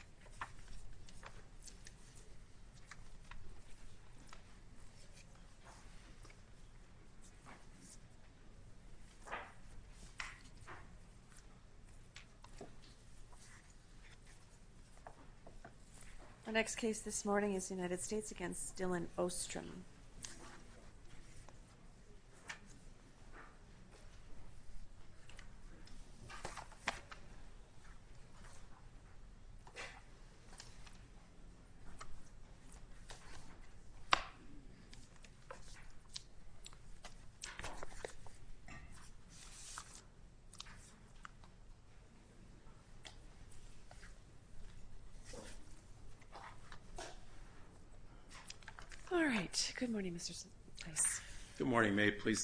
The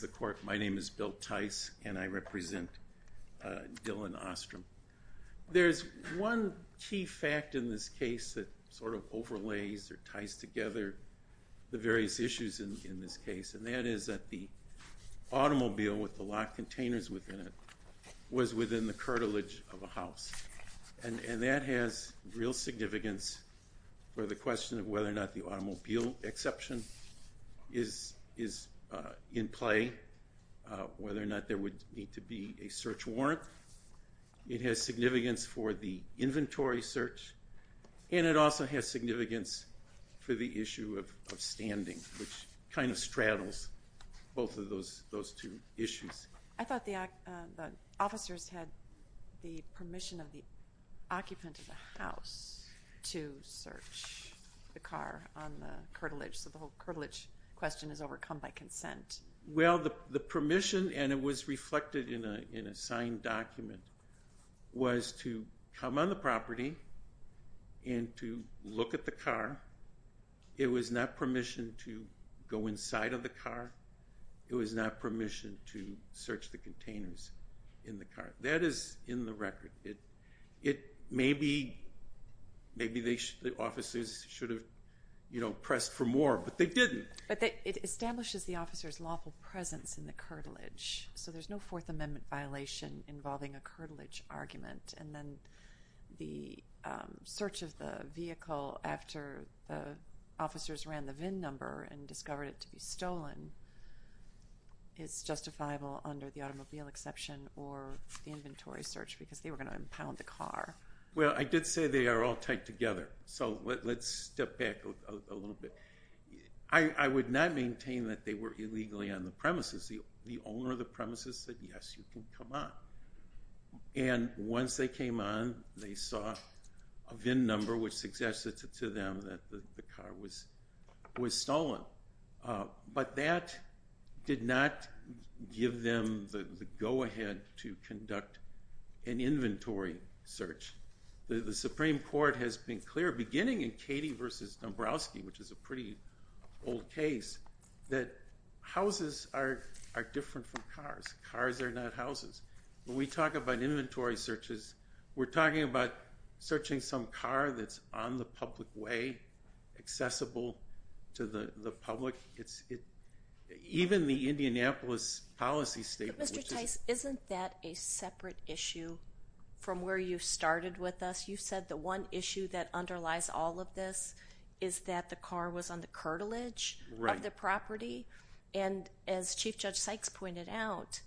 court. My name is Bill Tice and I represent Dylan Ostrum. There's one key fact in this case that sort of overlays or ties together the various issues in this case, and that is that the automobile with the locked containers within it was within the cartilage of a house. And that has real significance for the question of whether or not the automobile exception is in play, whether or not there would need to be a search warrant. It has significance for the inventory search and it also has significance for the issue of standing, which kind of straddles both of those two issues. I thought the officers had the permission of the occupant of the house to search the car on the cartilage, so the whole cartilage question is to come on the property and to look at the car. It was not permission to go inside of the car. It was not permission to search the containers in the car. That is in the record. Maybe the officers should have pressed for more, but they didn't. But it establishes the officer's lawful presence in the cartilage, so there's no Fourth Amendment violation involving a cartilage argument. The search of the vehicle after the officers ran the VIN number and discovered it to be stolen is justifiable under the automobile exception or the inventory search because they were going to impound the car. Well, I did say they are all tied together, so let's step back a little bit. I would not maintain that they were illegally on the premises. The owner of the premises said, yes, you can come on. And once they came on, they saw a VIN number which suggested to them that the car was stolen. But that did not give them the go-ahead to conduct an inventory search. The Supreme Court has been clear, beginning in Katie v. Dombrowski, which is a pretty old case, that houses are different from cars. Cars are not houses. When we talk about inventory searches, we're talking about searching some car that's on the public way, accessible to the public. Even the Indianapolis policy statement... Mr. Tice, isn't that a separate issue from where you started with us? You said the one issue that underlies all of this is that the car was on the cartilage of the property. And as Chief Judge Sykes pointed out,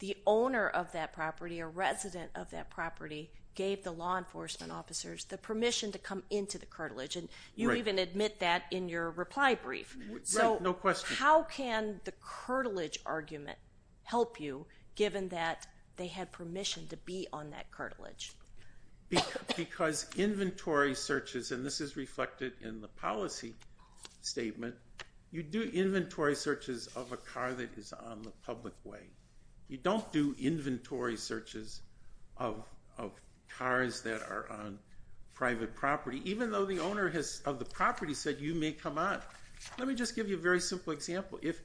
the owner of that property or resident of that property gave the law enforcement officers the permission to come into the cartilage. And you even admit that in your reply brief. So how can the cartilage argument help you, given that they had permission to be on that cartilage? Because inventory searches, and this is reflected in the policy statement, you do inventory searches of a car that is on the public way. You don't do inventory searches of cars that are on private property. Even though the owner of the property said, you may come on. Let me just give you a very simple example. If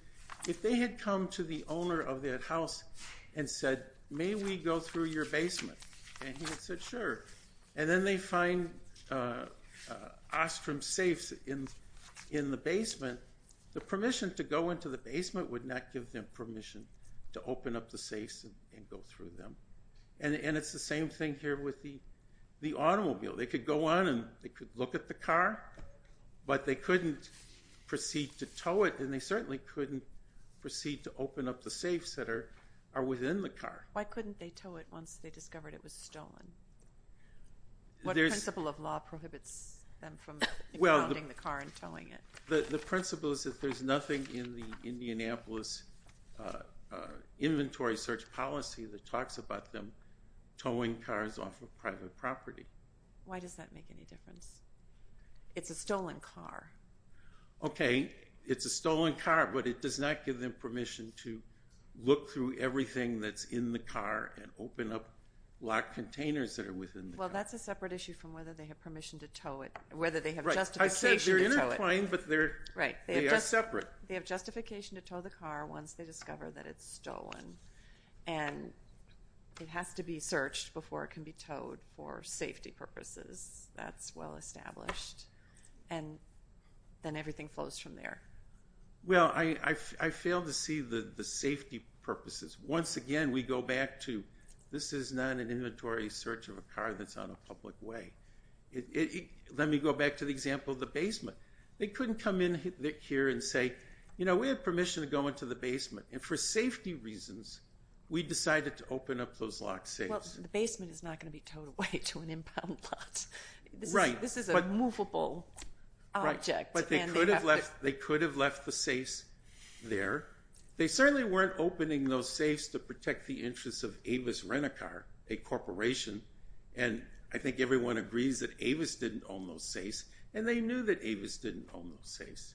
they had come to the owner of that house and said, may we go through your basement? And he had said, sure. And then they find Ostrom safes in the basement, the permission to go into the basement would not give them permission to open up the safes and go through them. And it's the same thing here with the automobile. They could go on and they could look at the car, but they couldn't proceed to tow it. And they certainly couldn't proceed to open up the safes that are within the car. Why couldn't they tow it once they discovered it was stolen? What principle of law prohibits them from grounding the car and towing it? The principle is that there's nothing in the Indianapolis inventory search policy that talks about them towing cars off of private property. Why does that make any difference? It's a stolen car. Okay. It's a stolen car, but it does not give them permission to look through everything that's in the car and open up locked containers that are within the car. Well, that's a separate issue from whether they have permission to tow it, whether they have justification to tow it. Right. I said they're intertwined, but they are separate. They have justification to tow the car once they discover that it's stolen. And it has to be searched before it can be towed for safety purposes. That's well established. And then everything flows from there. Well, I fail to see the safety purposes. Once again, we go back to, this is not an inventory search of a car that's on a public way. Let me go back to the example of the basement. They couldn't come in here and say, we have permission to go into the basement. And for safety reasons, we decided to open up those locked safes. Well, the basement is not going to be towed away to an impound lot. This is a movable object. But they could have left the safes there. They certainly weren't opening those safes to protect the interests of Avis Rent-A-Car, a corporation. And I think everyone agrees that Avis didn't own those safes. And they knew that Avis didn't own those safes.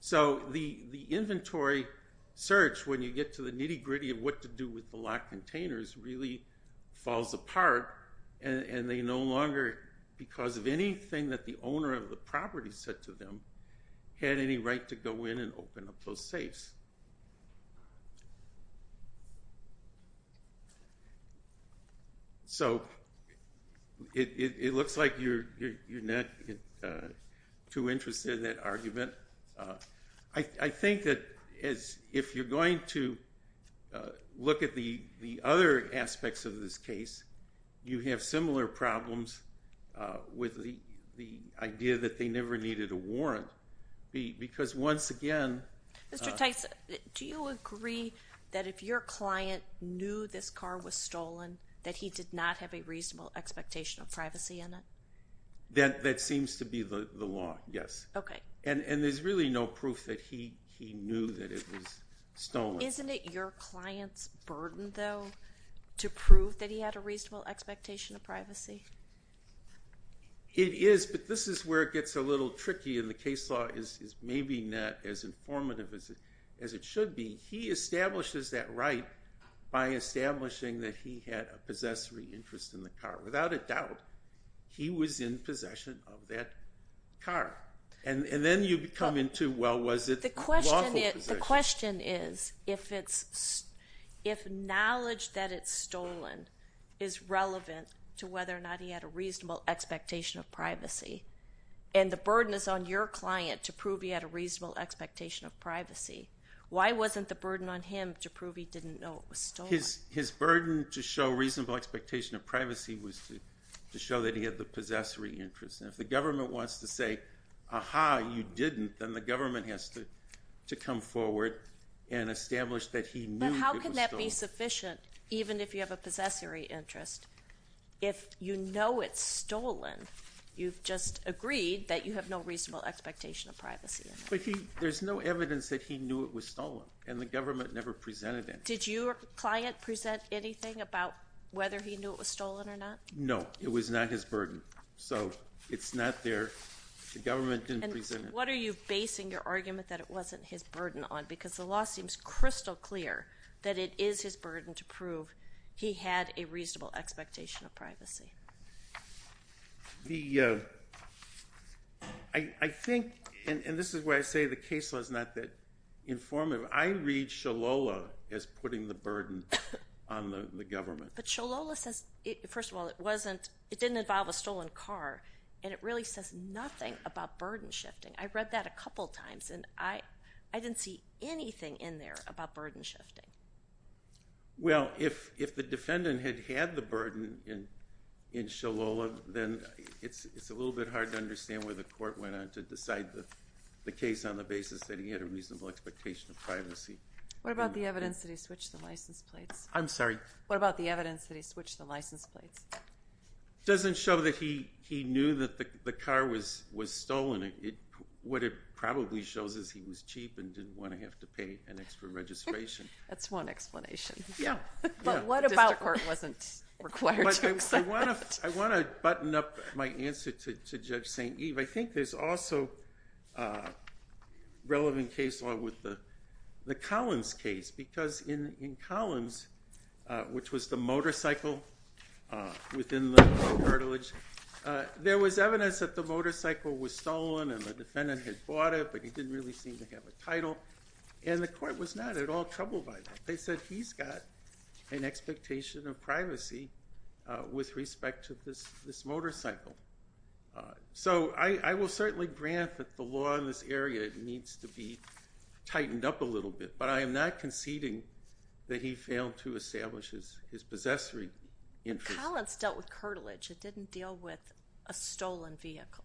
So the inventory search, when you get to the nitty gritty of what to do with the locked containers, really falls apart. And they no longer, because of anything that the owner of the property said to them, had any right to go in and open up those safes. So it looks like you're not too interested in that argument. I think that if you're going to look at the other aspects of this case, you have similar problems with the idea that they never needed a warrant. Mr. Tice, do you agree that if your client knew this car was stolen, that he did not have a reasonable expectation of privacy in it? That seems to be the law, yes. And there's really no proof that he knew that it was stolen. Isn't it your client's burden, though, to prove that he had a reasonable expectation of privacy? It is. But this is where it gets a little tricky, and the case law is maybe not as informative as it should be. He establishes that right by establishing that he had a possessory interest in the car. Without a doubt, he was in possession of that car. And then you come into, well, was it lawful possession? The question is, if knowledge that it's stolen is relevant to whether or not he had a reasonable expectation of privacy, and the burden is on your client to prove he had a reasonable expectation of privacy, why wasn't the burden on him to prove he didn't know it was stolen? His burden to show reasonable expectation of privacy was to show that he had the possessory interest. And if the forward and establish that he knew it was stolen. But how can that be sufficient, even if you have a possessory interest? If you know it's stolen, you've just agreed that you have no reasonable expectation of privacy. But there's no evidence that he knew it was stolen, and the government never presented it. Did your client present anything about whether he knew it was stolen or not? No, it was not his burden. So it's not there. The government didn't present it. And what are you basing your argument that it wasn't his burden on? Because the law seems crystal clear that it is his burden to prove he had a reasonable expectation of privacy. The, I think, and this is why I say the case law is not that informative. I read Sholola as putting the burden on the government. But Sholola says, first of all, it wasn't, it didn't involve a stolen car. And it really says nothing about burden shifting. I read that a couple times, and I didn't see anything in there about burden shifting. Well, if the defendant had had the burden in Sholola, then it's a little bit hard to understand where the court went on to decide the case on the basis that he had a reasonable expectation of privacy. What about the evidence that he switched the license plates? I'm sorry? What about the evidence that he switched the license plates? It doesn't show that he knew that the car was stolen. What it probably shows is he was cheap and didn't want to have to pay an extra registration. That's one explanation. Yeah. But what about- The district court wasn't required to accept that. I want to button up my answer to Judge St. Eve. I think there's also a relevant case law with the in Collins, which was the motorcycle within the cartilage. There was evidence that the motorcycle was stolen and the defendant had bought it, but he didn't really seem to have a title. And the court was not at all troubled by that. They said he's got an expectation of privacy with respect to this motorcycle. So I will certainly grant that the law in this area needs to be tightened up a little bit, but I am not conceding that he failed to establish his possessory interest. But Collins dealt with cartilage. It didn't deal with a stolen vehicle.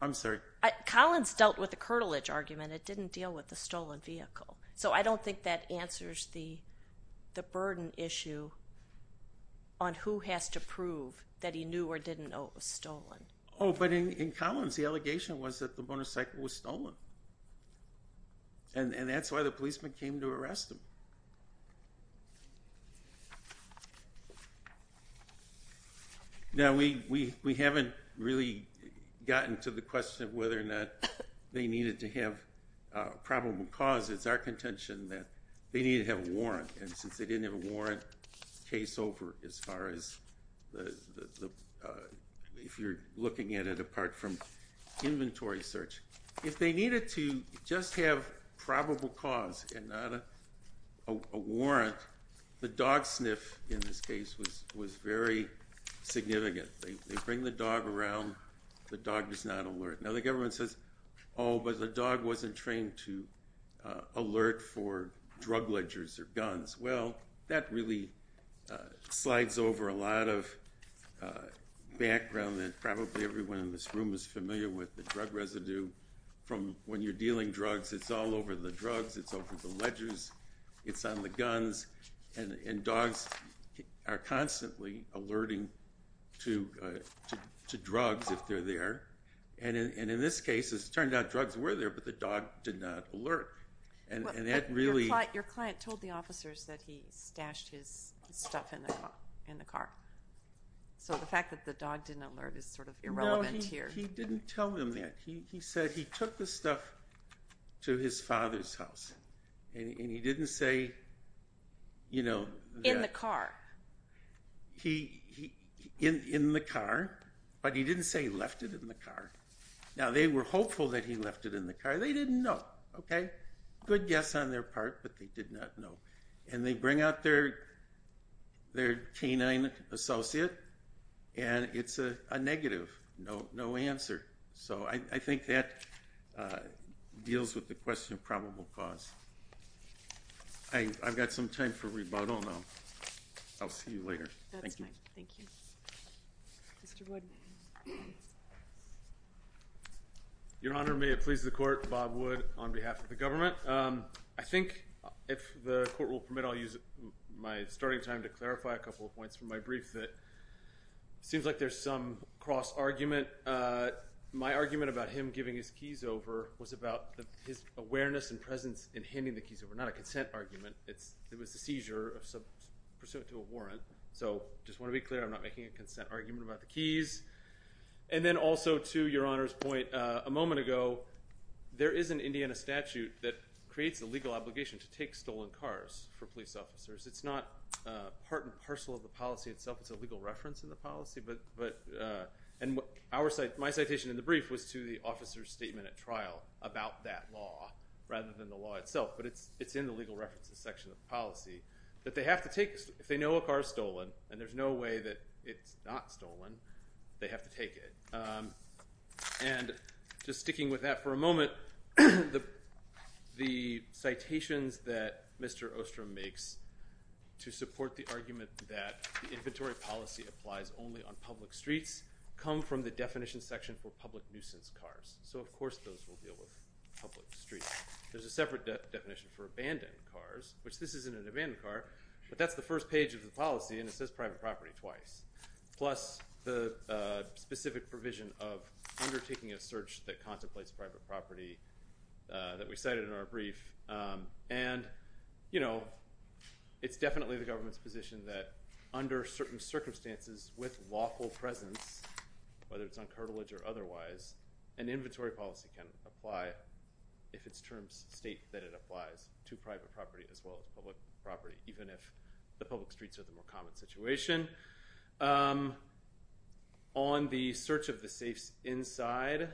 I'm sorry? Collins dealt with the cartilage argument. It didn't deal with the stolen vehicle. So I don't think that answers the burden issue on who has to prove that he knew or didn't know was stolen. Oh, but in Collins, the allegation was that the motorcycle was stolen. And that's why the policeman came to arrest him. Now, we haven't really gotten to the question of whether or not they needed to have a probable cause. It's our contention that they need to have a warrant. And since they didn't have a warrant, case over as far as if you're looking at it apart from inventory search. If they needed to just have probable cause and not a warrant, the dog sniff in this case was very significant. They bring the dog around. The dog does not alert. Now, the government says, oh, but the dog wasn't trained to alert for drug ledgers or guns. Well, that really slides over a lot of background that probably everyone in this room is familiar with, the drug residue from when you're dealing drugs. It's all over the drugs. It's over the ledgers. It's on the guns. And dogs are constantly alerting to drugs if they're there. And in this case, it turned out drugs were there, but the dog did not alert. And that really- Your client told the officers that he stashed his stuff in the car. So the fact that the dog didn't alert is sort of irrelevant here. No, he didn't tell him that. He said he took the stuff to his father's house. And he didn't say- In the car. In the car, but he didn't say he left it in the car. Now, they were hopeful that he left it in the car. They didn't know. Good guess on their part, but they did not know. And they bring out their canine associate, and it's a negative, no answer. So I think that deals with the question of probability. I've got some time for rebuttal now. I'll see you later. Thank you. Mr. Wood. Your Honor, may it please the court, Bob Wood on behalf of the government. I think, if the court will permit, I'll use my starting time to clarify a couple of points from my brief that it seems like there's some cross-argument. My argument about him giving his keys over was about his awareness and presence in handing the keys over, not a consent argument. It was a seizure pursuant to a warrant. So I just want to be clear, I'm not making a consent argument about the keys. And then also to Your Honor's point a moment ago, there is an Indiana statute that creates a legal obligation to take stolen cars for police officers. It's not part and parcel of the policy itself. It's a legal reference in the policy. And my citation in the brief was to the officer's statement at trial about that law rather than the law itself. But it's in the legal references section of the policy that they have to take, if they know a car is stolen, and there's no way that it's not stolen, they have to take it. And just sticking with that for a moment, the citations that Mr. Ostrom makes to support the argument that the inventory policy applies only on public streets come from the definition section for public nuisance cars. So of course those will deal with public streets. There's a separate definition for abandoned cars, which this isn't an abandoned car, but that's the first page of the policy and it says private property twice, plus the specific provision of undertaking a search that contemplates private property that we cited in our brief. And it's definitely the government's position that under certain circumstances with lawful presence, whether it's on cartilage or otherwise, an inventory policy can apply if its terms state that it applies to private property as well as public property, even if the public streets are the more common situation. On the search of the safes inside,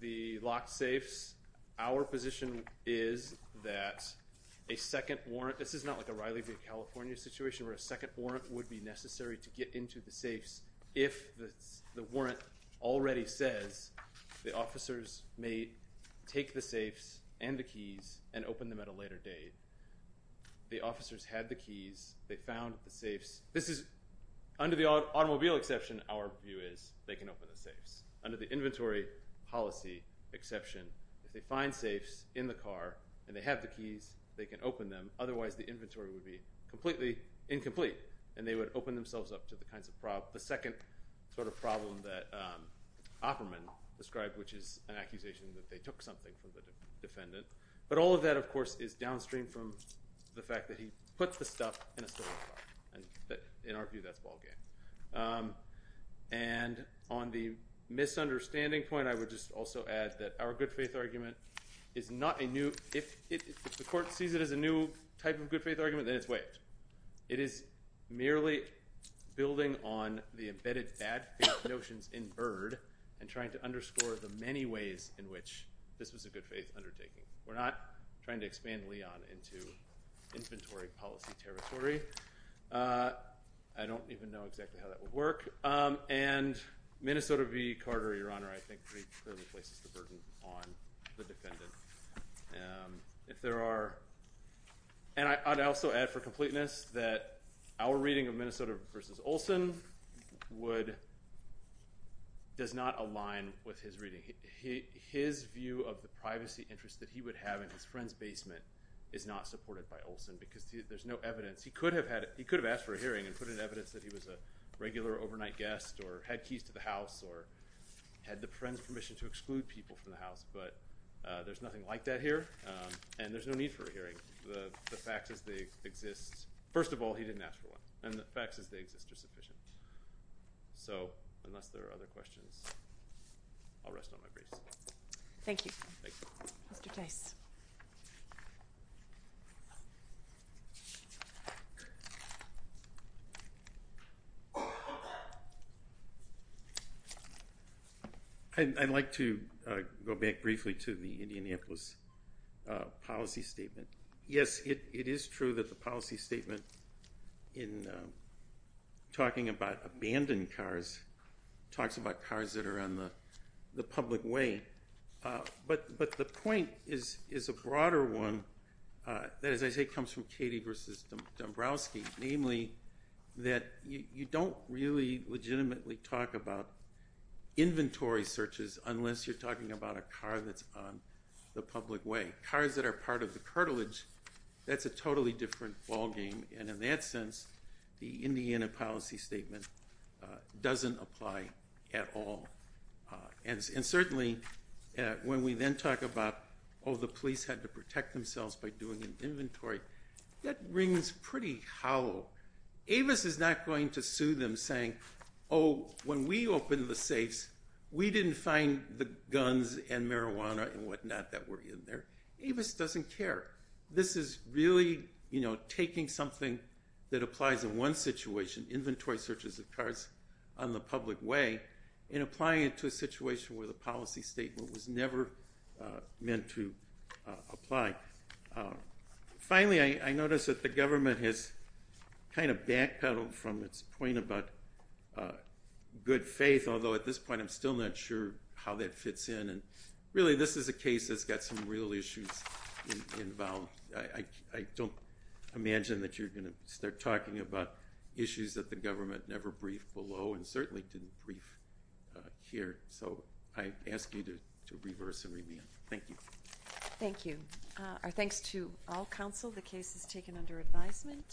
the locked safes, our position is that a second warrant, this is not like a Riley California situation where a second warrant would be necessary to get into the safes if the warrant already says the officers may take the safes and the keys and open them at a later date. The officers had the keys, they found the safes. This is under the automobile exception, our view is they can open the safes. Under the inventory policy exception, if they find safes in the car and they have the keys, they can open them. Otherwise, the inventory would be completely incomplete and they would open themselves up to the kinds of problems. The second sort of problem that Opperman described, which is an accusation that they took something from the defendant. But all of that, of course, is downstream from the fact that he put the stuff in a stolen car. In our view, that's ballgame. And on the misunderstanding point, I would just add that our good faith argument is not a new, if the court sees it as a new type of good faith argument, then it's waived. It is merely building on the embedded bad faith notions in Byrd and trying to underscore the many ways in which this was a good faith undertaking. We're not trying to expand Leon into inventory policy territory. I don't even know exactly how that would work. And Minnesota v. Carter, Your Honor, I think clearly places the burden on the defendant. And I'd also add for completeness that our reading of Minnesota versus Olson does not align with his reading. His view of the privacy interest that he would have in his friend's basement is not supported by Olson because there's no evidence. He could have asked for a hearing and put in evidence that he was a regular overnight guest or had keys to the house or had the friend's permission to exclude people from the house. But there's nothing like that here. And there's no need for a hearing. The facts as they exist, first of all, he didn't ask for one. And the facts as they exist are sufficient. So unless there are other questions, I'll rest on my grace. Thank you. Thank you. Mr. Case. I'd like to go back briefly to the Indianapolis policy statement. Yes, it is true that the policy statement in talking about abandoned cars talks about cars that are on the public way. But the point is a broader one that, as I say, comes from Katie versus Dombrowski, namely that you don't really legitimately talk about inventory searches unless you're talking about a car that's on the public way. Cars that are part of the cartilage, that's a totally different ballgame. And in that the police had to protect themselves by doing an inventory, that rings pretty hollow. Avis is not going to sue them saying, oh, when we opened the safes, we didn't find the guns and marijuana and whatnot that were in there. Avis doesn't care. This is really taking something that applies in one situation, inventory searches of cars on the public way, and applying it to a policy statement. Finally, I notice that the government has kind of backpedaled from its point about good faith, although at this point I'm still not sure how that fits in. And really, this is a case that's got some real issues involved. I don't imagine that you're going to start talking about issues that the government never briefed below and certainly didn't brief here. So I ask you to reverse and review. Thank you. Thank you. Our thanks to all counsel. The case is taken under advisement.